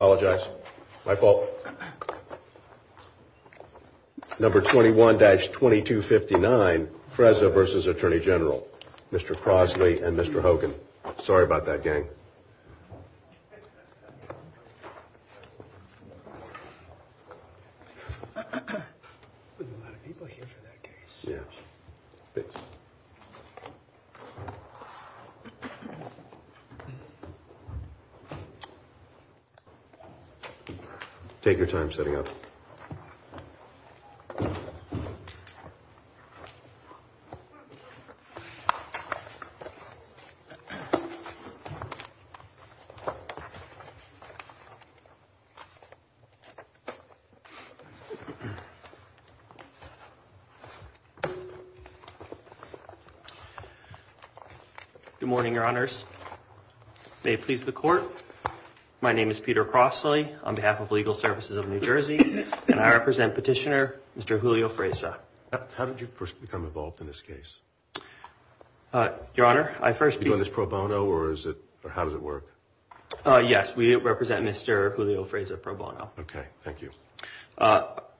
Apologize. My fault. Number 21-2259 Freza vs. Attorney General. Mr. Crosley and Mr. Hogan. Sorry about that, gang. Take your time setting up. Good morning, Your Honors. May it please the Court, my name is Peter Crosley on behalf of Legal Services of New Jersey and I represent Petitioner Mr. Julio Freza. How did you first become involved in this case? Your Honor, I first... Are you doing this pro bono or how does it work? Yes, we represent Mr. Julio Freza pro bono. Okay, thank you.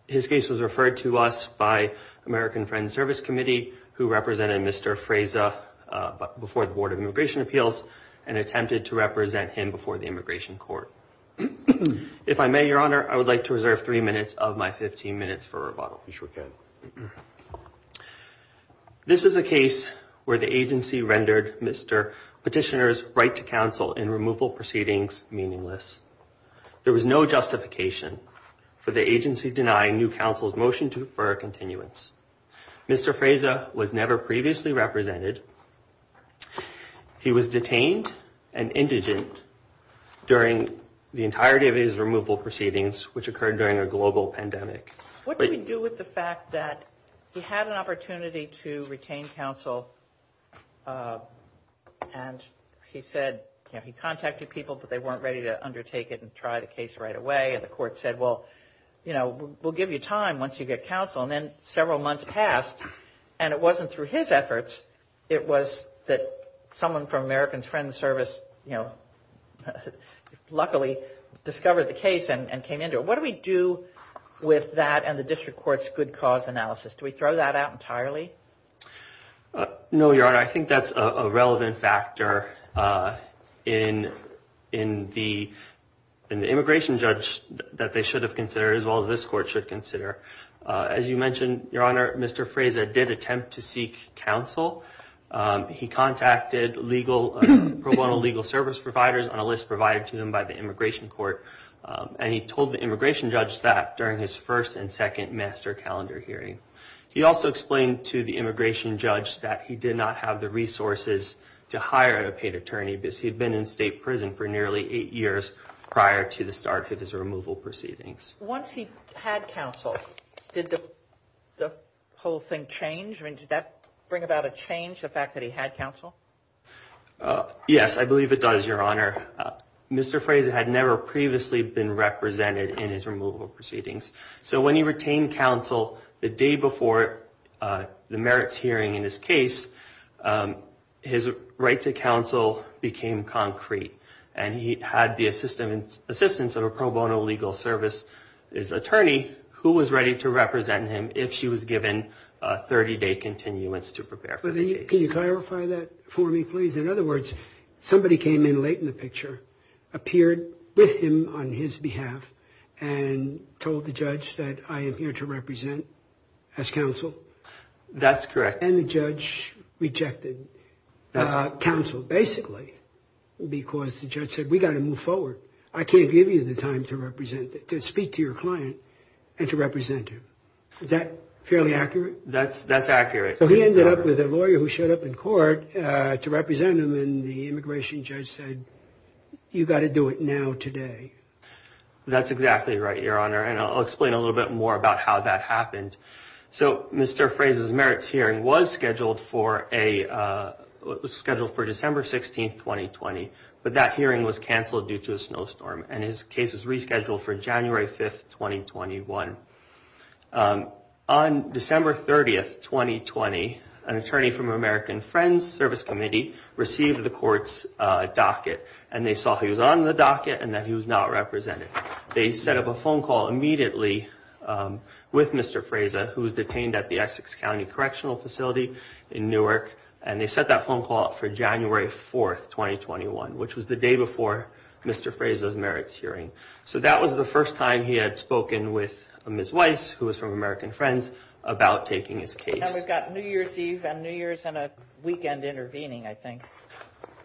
His case was referred to us by American Friends Service Committee who represented Mr. Freza before the Board of Immigration Appeals and attempted to represent him before the Immigration Court. If I may, Your Honor, I would like to reserve three minutes of my 15 minutes for rebuttal. You sure can. This is a case where the agency rendered Mr. Petitioner's right to counsel in removal proceedings meaningless. There was no justification for the agency denying new counsel's motion to defer continuance. Mr. Freza was never previously represented. He was detained and indigent during the entirety of his removal proceedings, which occurred during a global pandemic. What do we do with the fact that he had an opportunity to retain counsel and he said, you know, he contacted people but they weren't ready to undertake it and try the case right away and the court said, well, you know, we'll give you time once you get counsel. And then several months passed and it wasn't through his efforts. It was that someone from American Friends Service, you know, luckily discovered the case and came into it. What do we do with that and the district court's good cause analysis? Do we throw that out entirely? No, Your Honor, I think that's a relevant factor in the immigration judge that they should have considered as well as this court should consider. As you mentioned, Your Honor, Mr. Freza did attempt to seek counsel. He contacted pro bono legal service providers on a list provided to them by the Immigration Court and he told the immigration judge that during his first and second master calendar hearing. He also explained to the immigration judge that he did not have the resources to hire a paid attorney because he'd been in state prison for nearly eight years prior to the start of his removal proceedings. Once he had counsel, did the whole thing change? I mean, did that bring about a change, the fact that he had counsel? Yes, I believe it does, Your Honor. Mr. Freza had never previously been represented in his removal proceedings, so when he retained counsel the day before the merits hearing in his case, his right to counsel became concrete and he had the assistance of a pro bono legal service attorney who was ready to represent him if she was given a 30-day continuance to prepare for the case. Can you clarify that for me, please? In other words, somebody came in late in the picture, appeared with him on his behalf and told the judge that I am here to represent as counsel? That's correct. And the judge rejected counsel basically because the judge said we've got to move forward. I can't give you the time to speak to your client and to represent him. Is that fairly accurate? That's accurate. So he ended up with a lawyer who showed up in court to represent him and the immigration judge said you've got to do it now, today. That's exactly right, Your Honor, and I'll explain a little bit more about how that happened. So Mr. Freza's merits hearing was scheduled for December 16, 2020, but that hearing was canceled due to a snowstorm and his case was rescheduled for January 5, 2021. On December 30, 2020, an attorney from American Friends Service Committee received the court's docket and they saw he was on the docket and that he was not represented. They set up a phone call immediately with Mr. Freza, who was detained at the Essex County Correctional Facility in Newark, and they set that phone call up for January 4, 2021, which was the day before Mr. Freza's merits hearing. So that was the first time he had spoken with Ms. Weiss, who was from American Friends, about taking his case. And we've got New Year's Eve and New Year's and a weekend intervening, I think.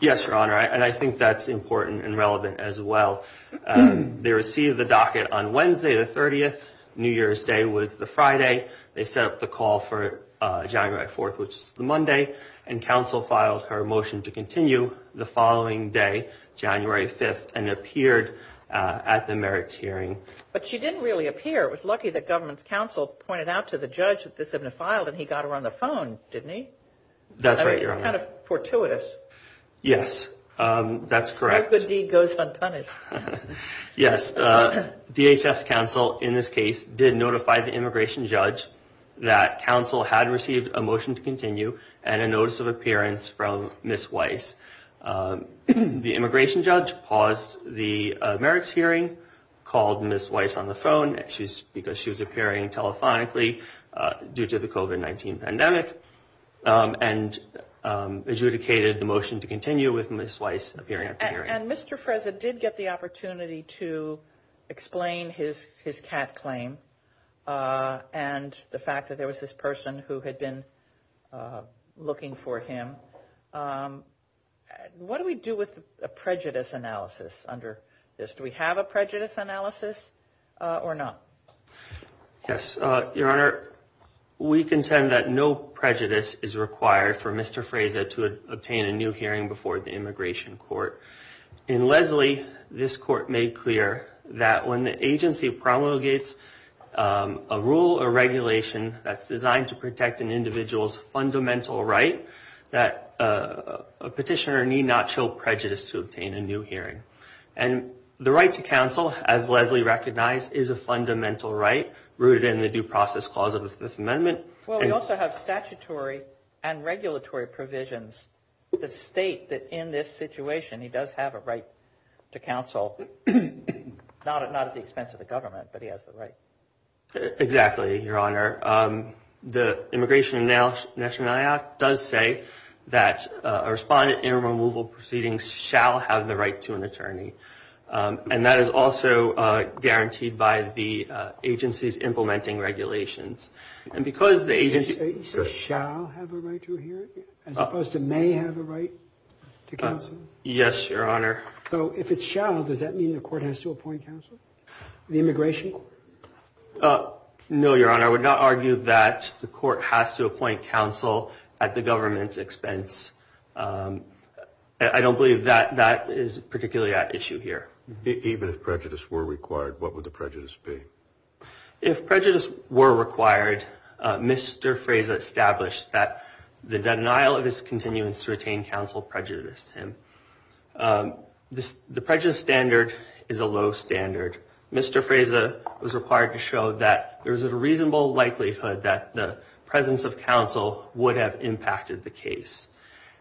Yes, Your Honor, and I think that's important and relevant as well. They received the docket on Wednesday, the 30th. New Year's Day was the Friday. They set up the call for January 4, which is the Monday, and counsel filed her motion to continue the following day, January 5, and appeared at the merits hearing. But she didn't really appear. It was lucky that government counsel pointed out to the judge that this had been filed and he got her on the phone, didn't he? That's right, Your Honor. It's kind of fortuitous. Yes, that's correct. No good deed goes unpunished. Yes, DHS counsel in this case did notify the immigration judge that counsel had received a motion to continue and a notice of appearance from Ms. Weiss. The immigration judge paused the merits hearing, called Ms. Weiss on the phone, because she was appearing telephonically due to the COVID-19 pandemic, and adjudicated the motion to continue with Ms. Weiss appearing. And Mr. Fraza did get the opportunity to explain his cat claim and the fact that there was this person who had been looking for him. What do we do with a prejudice analysis under this? Do we have a prejudice analysis or not? Yes, Your Honor. We contend that no prejudice is required for Mr. Fraza to obtain a new hearing before the immigration court. In Leslie, this court made clear that when the agency promulgates a rule or regulation that's designed to protect an individual's fundamental right, that a petitioner need not show prejudice to obtain a new hearing. And the right to counsel, as Leslie recognized, is a fundamental right rooted in the due process clause of the Fifth Amendment. Well, we also have statutory and regulatory provisions that state that in this situation, he does have a right to counsel, not at the expense of the government, but he has the right. Exactly, Your Honor. The Immigration and Nationality Act does say that a respondent in removal proceedings shall have the right to an attorney. And that is also guaranteed by the agency's implementing regulations. And because the agency... So shall have a right to a hearing as opposed to may have a right to counsel? Yes, Your Honor. So if it's shall, does that mean the court has to appoint counsel? The immigration court? No, Your Honor. I don't believe that is particularly at issue here. Even if prejudice were required, what would the prejudice be? If prejudice were required, Mr. Fraza established that the denial of his continuance to retain counsel prejudiced him. The prejudice standard is a low standard. Mr. Fraza was required to show that there is a reasonable likelihood that the presence of counsel would have impacted the case.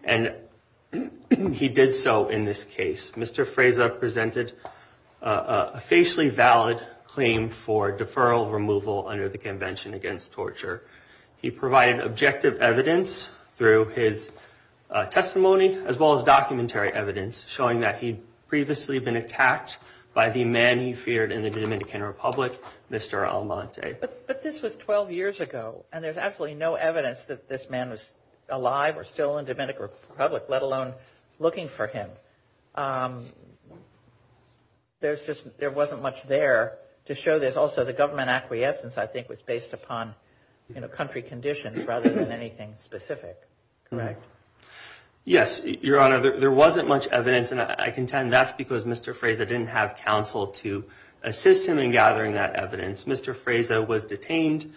And he did so in this case. Mr. Fraza presented a facially valid claim for deferral removal under the Convention Against Torture. He provided objective evidence through his testimony as well as documentary evidence showing that he'd previously been attacked by the man he feared in the Dominican Republic, Mr. Almonte. But this was 12 years ago. And there's absolutely no evidence that this man was alive or still in the Dominican Republic, let alone looking for him. There wasn't much there to show this. Also, the government acquiescence, I think, was based upon country conditions rather than anything specific. Correct. Yes, Your Honor. There wasn't much evidence. And I contend that's because Mr. Fraza didn't have counsel to assist him in gathering that evidence. Mr. Fraza was detained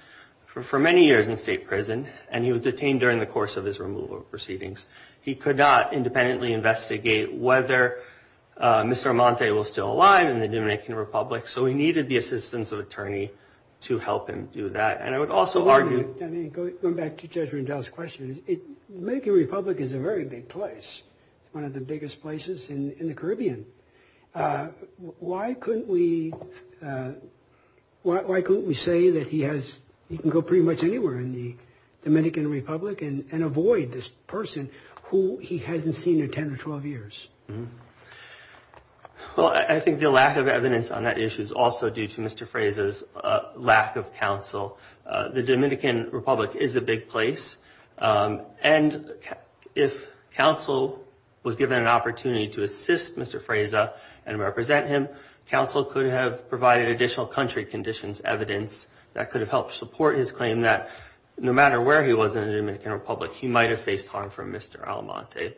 for many years in state prison. And he was detained during the course of his removal proceedings. He could not independently investigate whether Mr. Almonte was still alive in the Dominican Republic. So he needed the assistance of an attorney to help him do that. And I would also argue— Let me go back to Judge Rendell's question. The Dominican Republic is a very big place. It's one of the biggest places in the Caribbean. Why couldn't we say that he can go pretty much anywhere in the Dominican Republic and avoid this person who he hasn't seen in 10 or 12 years? Well, I think the lack of evidence on that issue is also due to Mr. Fraza's lack of counsel. The Dominican Republic is a big place. And if counsel was given an opportunity to assist Mr. Fraza and represent him, counsel could have provided additional country conditions evidence that could have helped support his claim that no matter where he was in the Dominican Republic, he might have faced harm from Mr. Almonte.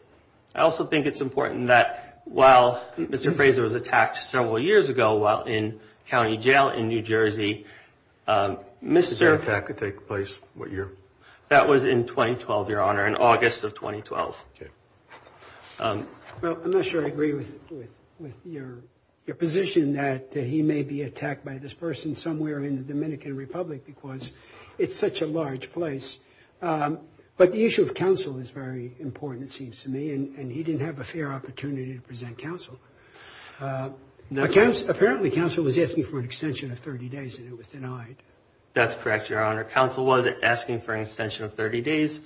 I also think it's important that while Mr. Fraza was attacked several years ago while in county jail in New Jersey, Mr.— The attack could take place what year? That was in 2012, Your Honor, in August of 2012. Okay. Well, I'm not sure I agree with your position that he may be attacked by this person somewhere in the Dominican Republic because it's such a large place. But the issue of counsel is very important, it seems to me, and he didn't have a fair opportunity to present counsel. Apparently, counsel was asking for an extension of 30 days and it was denied. That's correct, Your Honor. Counsel was asking for an extension of 30 days.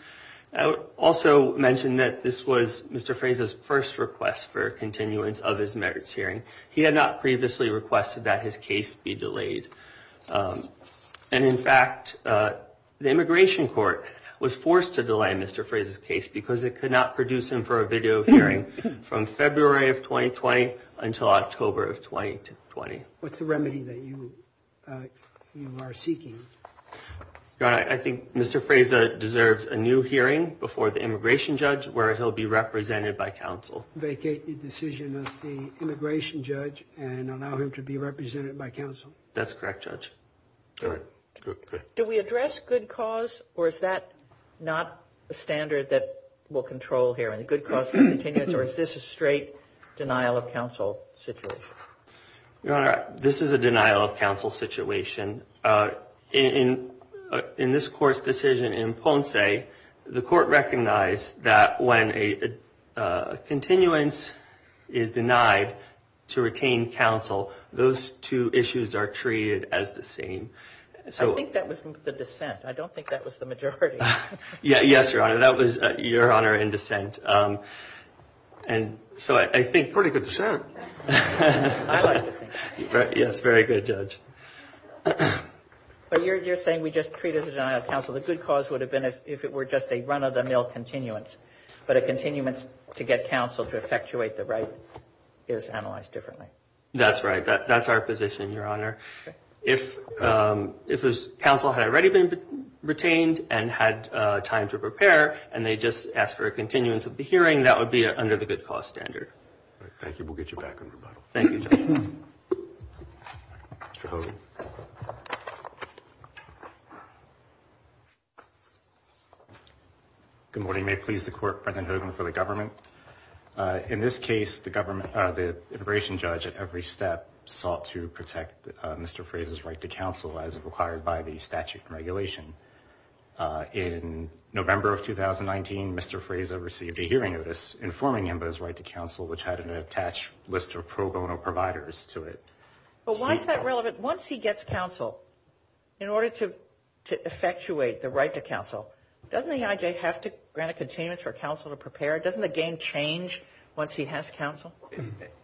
I would also mention that this was Mr. Fraza's first request for a continuance of his merits hearing. He had not previously requested that his case be delayed. And, in fact, the Immigration Court was forced to delay Mr. Fraza's case because it could not produce him for a video hearing from February of 2020 until October of 2020. What's the remedy that you are seeking? Your Honor, I think Mr. Fraza deserves a new hearing before the immigration judge where he'll be represented by counsel. Vacate the decision of the immigration judge and allow him to be represented by counsel. That's correct, Judge. All right. Good. Do we address good cause or is that not a standard that we'll control here? And the good cause for continuance or is this a straight denial of counsel situation? Your Honor, this is a denial of counsel situation. In this court's decision in Ponce, the court recognized that when a continuance is denied to retain counsel, those two issues are treated as the same. I think that was the dissent. I don't think that was the majority. Yes, Your Honor. That was Your Honor in dissent. Pretty good dissent. Yes, very good, Judge. But you're saying we just treat it as a denial of counsel. The good cause would have been if it were just a run-of-the-mill continuance, but a continuance to get counsel to effectuate the right is analyzed differently. That's right. That's our position, Your Honor. If counsel had already been retained and had time to prepare and they just asked for a continuance of the hearing, that would be under the good cause standard. Thank you. We'll get you back on rebuttal. Thank you, Judge. Mr. Hogan. Good morning. May it please the Court, President Hogan, for the government. In this case, the immigration judge at every step sought to protect Mr. Fraser's right to counsel as required by the statute and regulation. In November of 2019, Mr. Fraser received a hearing notice informing him of his right to counsel, which had an attached list of pro bono providers to it. But why is that relevant? Once he gets counsel, in order to effectuate the right to counsel, doesn't EIJ have to grant a continuance for counsel to prepare? Doesn't the game change once he has counsel?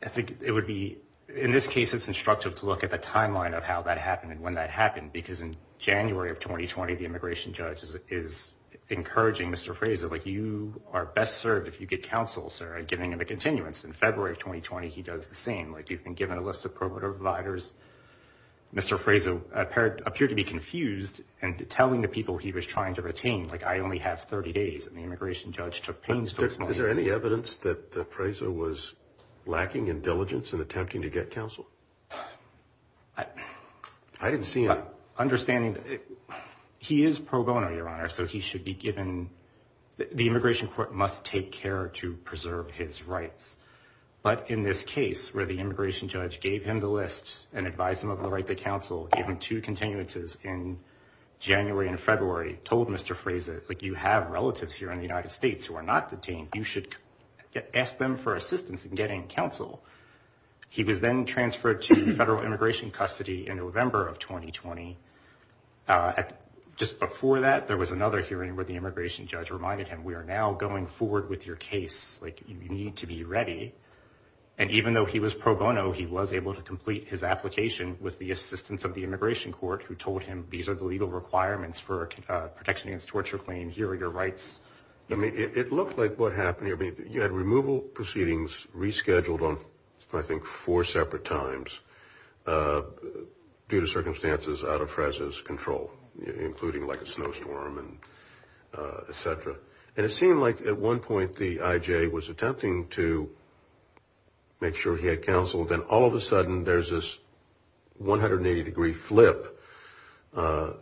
I think it would be, in this case, it's instructive to look at the timeline of how that happened and when that happened, because in January of 2020, the immigration judge is encouraging Mr. Fraser, like, you are best served if you get counsel, sir, and giving him a continuance. In February of 2020, he does the same. Like, you've been given a list of pro bono providers. Mr. Fraser appeared to be confused and telling the people he was trying to retain, like, I only have 30 days, and the immigration judge took pains to explain. Is there any evidence that Fraser was lacking in diligence in attempting to get counsel? I didn't see it. Understanding that he is pro bono, Your Honor, so he should be given the immigration court must take care to preserve his rights. But in this case where the immigration judge gave him the list and advised him of the right to counsel, gave him two continuances in January and February, told Mr. Fraser, like, you have relatives here in the United States who are not detained. You should ask them for assistance in getting counsel. He was then transferred to federal immigration custody in November of 2020. Just before that, there was another hearing where the immigration judge reminded him, we are now going forward with your case. Like, you need to be ready. And even though he was pro bono, he was able to complete his application with the assistance of the immigration court, who told him these are the legal requirements for a protection against torture claim. Here are your rights. I mean, it looked like what happened here, you had removal proceedings rescheduled on, I think, four separate times due to circumstances out of Fraser's control, including, like, a snowstorm, et cetera. And it seemed like at one point the IJ was attempting to make sure he had counsel. Then all of a sudden there's this 180-degree flip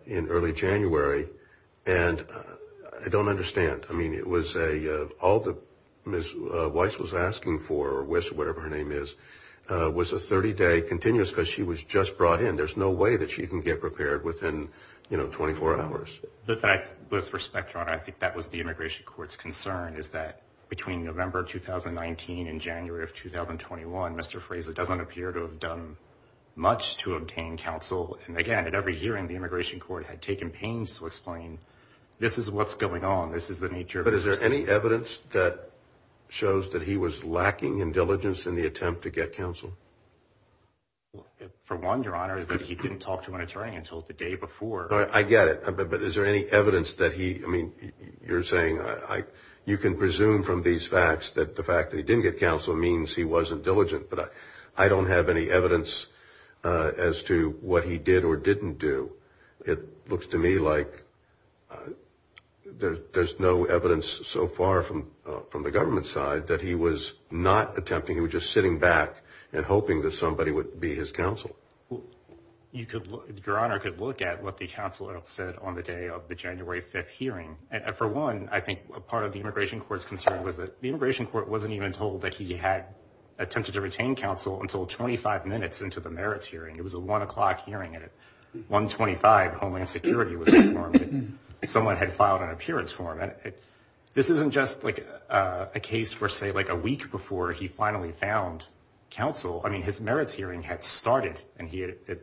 in early January. And I don't understand. I mean, it was all that Ms. Weiss was asking for, or Wiss, whatever her name is, was a 30-day continuous because she was just brought in. There's no way that she can get prepared within, you know, 24 hours. With respect, Your Honor, I think that was the immigration court's concern, is that between November 2019 and January of 2021, Mr. Fraser doesn't appear to have done much to obtain counsel. And, again, at every hearing, the immigration court had taken pains to explain this is what's going on. This is the nature of this case. But is there any evidence that shows that he was lacking in diligence in the attempt to get counsel? For one, Your Honor, is that he didn't talk to an attorney until the day before. I get it. But is there any evidence that he, I mean, you're saying you can presume from these facts that the fact that he didn't get counsel means he wasn't diligent. But I don't have any evidence as to what he did or didn't do. It looks to me like there's no evidence so far from the government side that he was not attempting. He was just sitting back and hoping that somebody would be his counsel. Your Honor, you could look at what the counsel said on the day of the January 5th hearing. For one, I think part of the immigration court's concern was that the immigration court wasn't even told that he had attempted to retain counsel until 25 minutes into the merits hearing. It was a 1 o'clock hearing. At 1.25, Homeland Security was informed that someone had filed an appearance form. This isn't just like a case for, say, like a week before he finally found counsel. I mean, his merits hearing had started and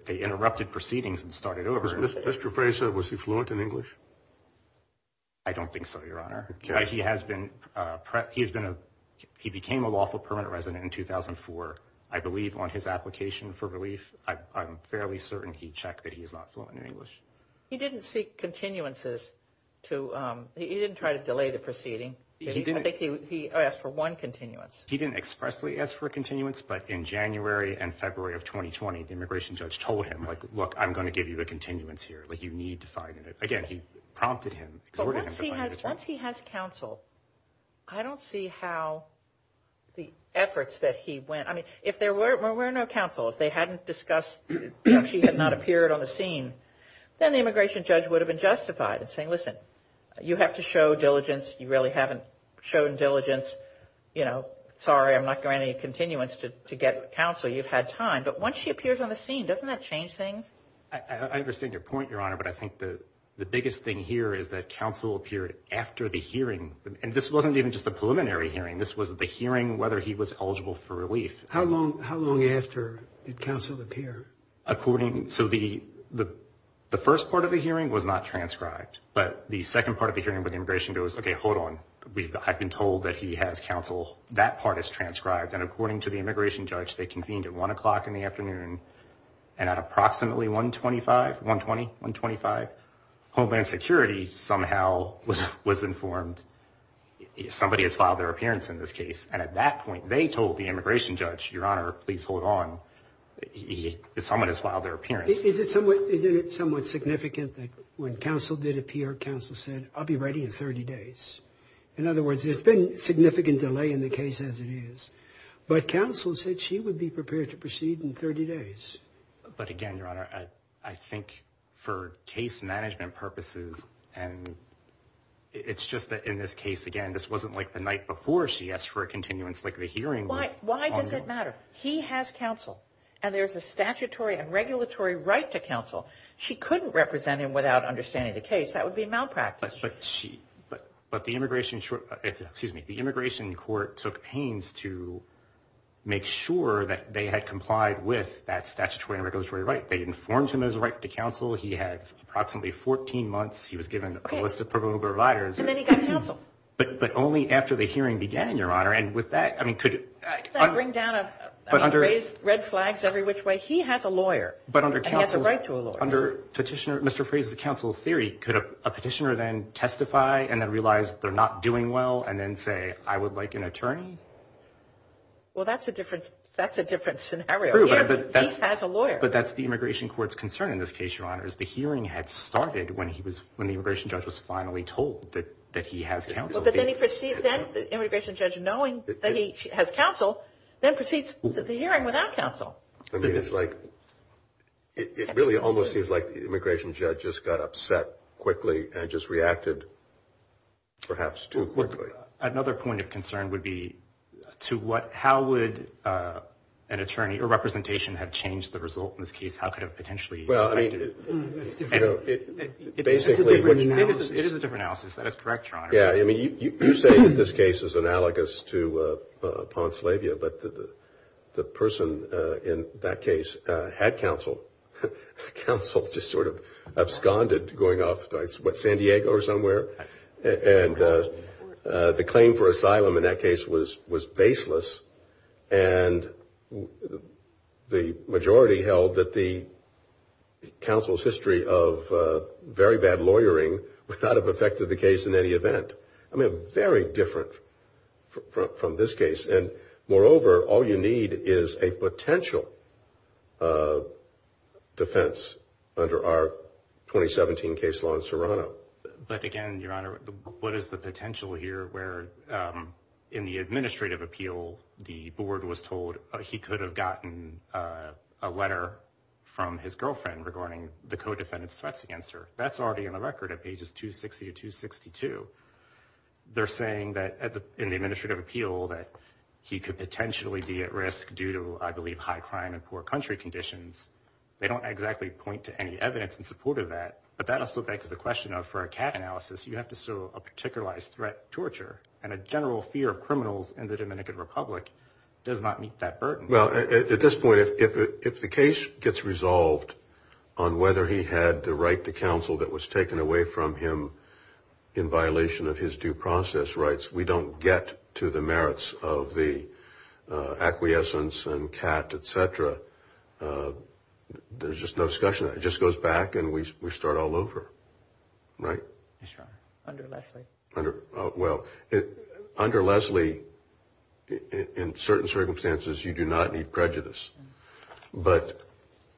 they interrupted proceedings and started over. Mr. Fraser, was he fluent in English? I don't think so, Your Honor. He has been, he became a lawful permanent resident in 2004. I believe on his application for relief, I'm fairly certain he checked that he is not fluent in English. He didn't seek continuances to, he didn't try to delay the proceeding. I think he asked for one continuance. He didn't expressly ask for a continuance, but in January and February of 2020, the immigration judge told him, like, look, I'm going to give you a continuance here. Like, you need to find it. Again, he prompted him, exhorted him to find it. But once he has counsel, I don't see how the efforts that he went, I mean, if there were no counsel, if they hadn't discussed, if he had not appeared on the scene, then the immigration judge would have been justified in saying, listen, you have to show diligence. You really haven't shown diligence. You know, sorry, I'm not granting you continuance to get counsel. You've had time. But once he appears on the scene, doesn't that change things? I understand your point, Your Honor. But I think the biggest thing here is that counsel appeared after the hearing. And this wasn't even just a preliminary hearing. This was the hearing whether he was eligible for relief. How long after did counsel appear? According, so the first part of the hearing was not transcribed. But the second part of the hearing with immigration goes, okay, hold on. I've been told that he has counsel. That part is transcribed. And according to the immigration judge, they convened at 1 o'clock in the afternoon. And at approximately 125, 120, 125, Homeland Security somehow was informed somebody has filed their appearance in this case. And at that point, they told the immigration judge, Your Honor, please hold on. Someone has filed their appearance. Isn't it somewhat significant that when counsel did appear, counsel said, I'll be ready in 30 days? In other words, there's been significant delay in the case as it is. But counsel said she would be prepared to proceed in 30 days. But again, Your Honor, I think for case management purposes and it's just that in this case, again, this wasn't like the night before she asked for a continuance like the hearing was. Why does it matter? He has counsel. And there's a statutory and regulatory right to counsel. She couldn't represent him without understanding the case. That would be malpractice. But the immigration court took pains to make sure that they had complied with that statutory and regulatory right. They informed him there was a right to counsel. He had approximately 14 months. He was given a list of provisional providers. And then he got counsel. But only after the hearing began, Your Honor. Could that bring down red flags every which way? He has a lawyer. And he has a right to a lawyer. But under Mr. Frey's counsel theory, could a petitioner then testify and then realize they're not doing well and then say, I would like an attorney? Well, that's a different scenario. He has a lawyer. But that's the immigration court's concern in this case, Your Honors. The hearing had started when the immigration judge was finally told that he has counsel. But then the immigration judge, knowing that he has counsel, then proceeds to the hearing without counsel. I mean, it's like it really almost seems like the immigration judge just got upset quickly and just reacted perhaps too quickly. Another point of concern would be to how would an attorney or representation have changed the result in this case? How could it have potentially affected it? It is a different analysis. It is a different analysis. That is correct, Your Honor. Yeah. I mean, you say that this case is analogous to Ponslavia. But the person in that case had counsel. Counsel just sort of absconded going off to, what, San Diego or somewhere? And the claim for asylum in that case was baseless. And the majority held that the counsel's history of very bad lawyering would not have affected the case in any event. I mean, very different from this case. And, moreover, all you need is a potential defense under our 2017 case law in Serrano. But, again, Your Honor, what is the potential here where, in the administrative appeal, the board was told he could have gotten a letter from his girlfriend regarding the co-defendant's threats against her? That's already on the record at pages 260 to 262. They're saying that in the administrative appeal that he could potentially be at risk due to, I believe, high crime and poor country conditions. They don't exactly point to any evidence in support of that. But that also begs the question of, for a CAT analysis, you have to serve a particularized threat torture. And a general fear of criminals in the Dominican Republic does not meet that burden. Well, at this point, if the case gets resolved on whether he had the right to counsel that was taken away from him in violation of his due process rights, we don't get to the merits of the acquiescence and CAT, et cetera. There's just no discussion. It just goes back and we start all over. Yes, Your Honor. Under Leslie. Well, under Leslie, in certain circumstances, you do not need prejudice. But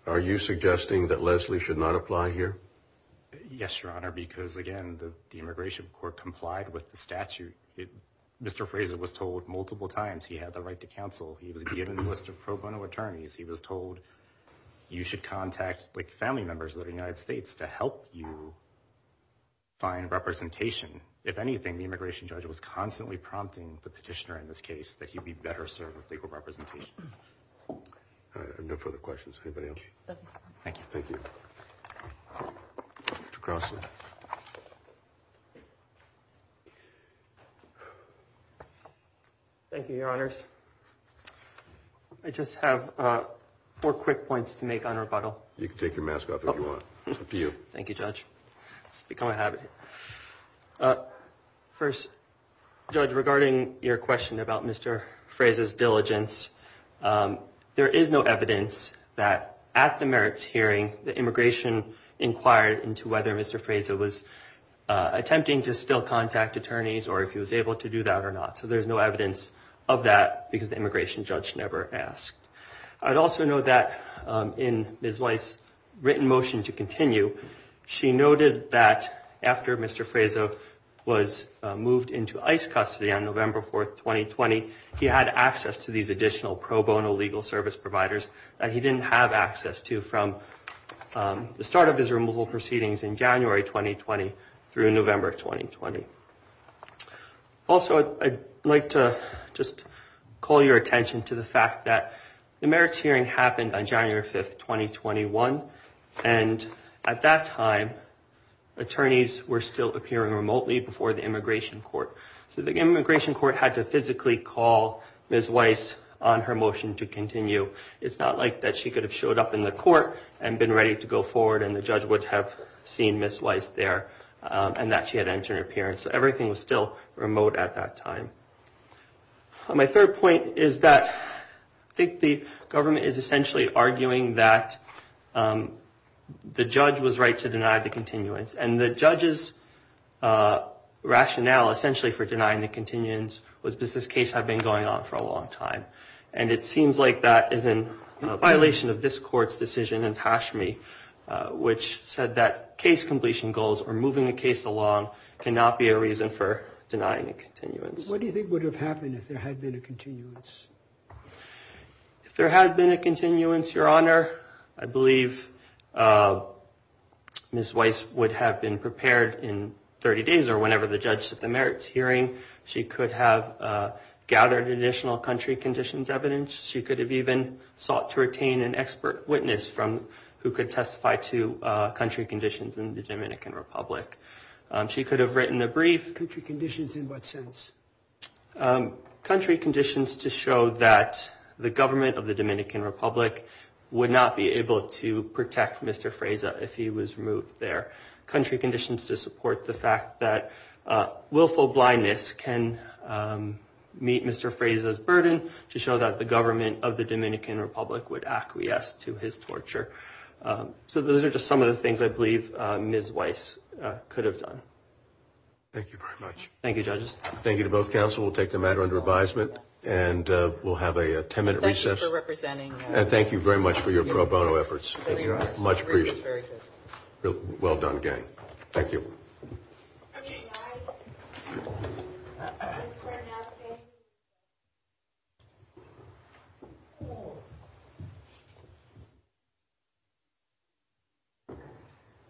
are you suggesting that Leslie should not apply here? Yes, Your Honor, because, again, the Immigration Court complied with the statute. Mr. Fraser was told multiple times he had the right to counsel. He was given a list of pro bono attorneys. He was told you should contact family members of the United States to help you find representation. If anything, the immigration judge was constantly prompting the petitioner in this case that he'd be better served with legal representation. No further questions. Anybody else? Thank you. Thank you, Your Honors. I just have four quick points to make on rebuttal. You can take your mask off if you want. It's up to you. Thank you, Judge. It's become a habit. First, Judge, regarding your question about Mr. Fraser's diligence, there is no evidence that at the merits hearing, the immigration inquired into whether Mr. Fraser was attempting to still contact attorneys or if he was able to do that or not. So there's no evidence of that, because the immigration judge never asked. I'd also note that in Ms. Weiss' written motion to continue, she noted that after Mr. Fraser was moved into ICE custody on November 4, 2020, he had access to these additional pro bono legal service providers that he didn't have access to from the start of his removal proceedings in January 2020 through November 2020. Also, I'd like to just call your attention to the fact that the merits hearing happened on January 5, 2021, and at that time, attorneys were still appearing remotely before the immigration court. So the immigration court had to physically call Ms. Weiss on her motion to continue. It's not like that she could have showed up in the court and been ready to go forward, and the judge would have seen Ms. Weiss there and that she had entered an appearance. So everything was still remote at that time. My third point is that I think the government is essentially arguing that the judge was right to deny the continuance, and the judge's rationale essentially for denying the continuance was, does this case have been going on for a long time? And it seems like that is in violation of this court's decision in Hashmi, which said that case completion goals or moving a case along cannot be a reason for denying a continuance. What do you think would have happened if there had been a continuance? If there had been a continuance, Your Honor, I believe Ms. Weiss would have been prepared in 30 days or whenever the judge sent the merits hearing. She could have gathered additional country conditions evidence. She could have even sought to retain an expert witness who could testify to country conditions in the Dominican Republic. She could have written a brief. Country conditions in what sense? Country conditions to show that the government of the Dominican Republic would not be able to protect Mr. Freyza if he was removed there. Country conditions to support the fact that willful blindness can meet Mr. Freyza's burden to show that the government of the Dominican Republic would acquiesce to his torture. So those are just some of the things I believe Ms. Weiss could have done. Thank you very much. Thank you, judges. Thank you to both counsel. We'll take the matter under advisement, and we'll have a 10-minute recess. Thank you for representing us. And thank you very much for your pro bono efforts. Much appreciated. Well done, gang. Thank you.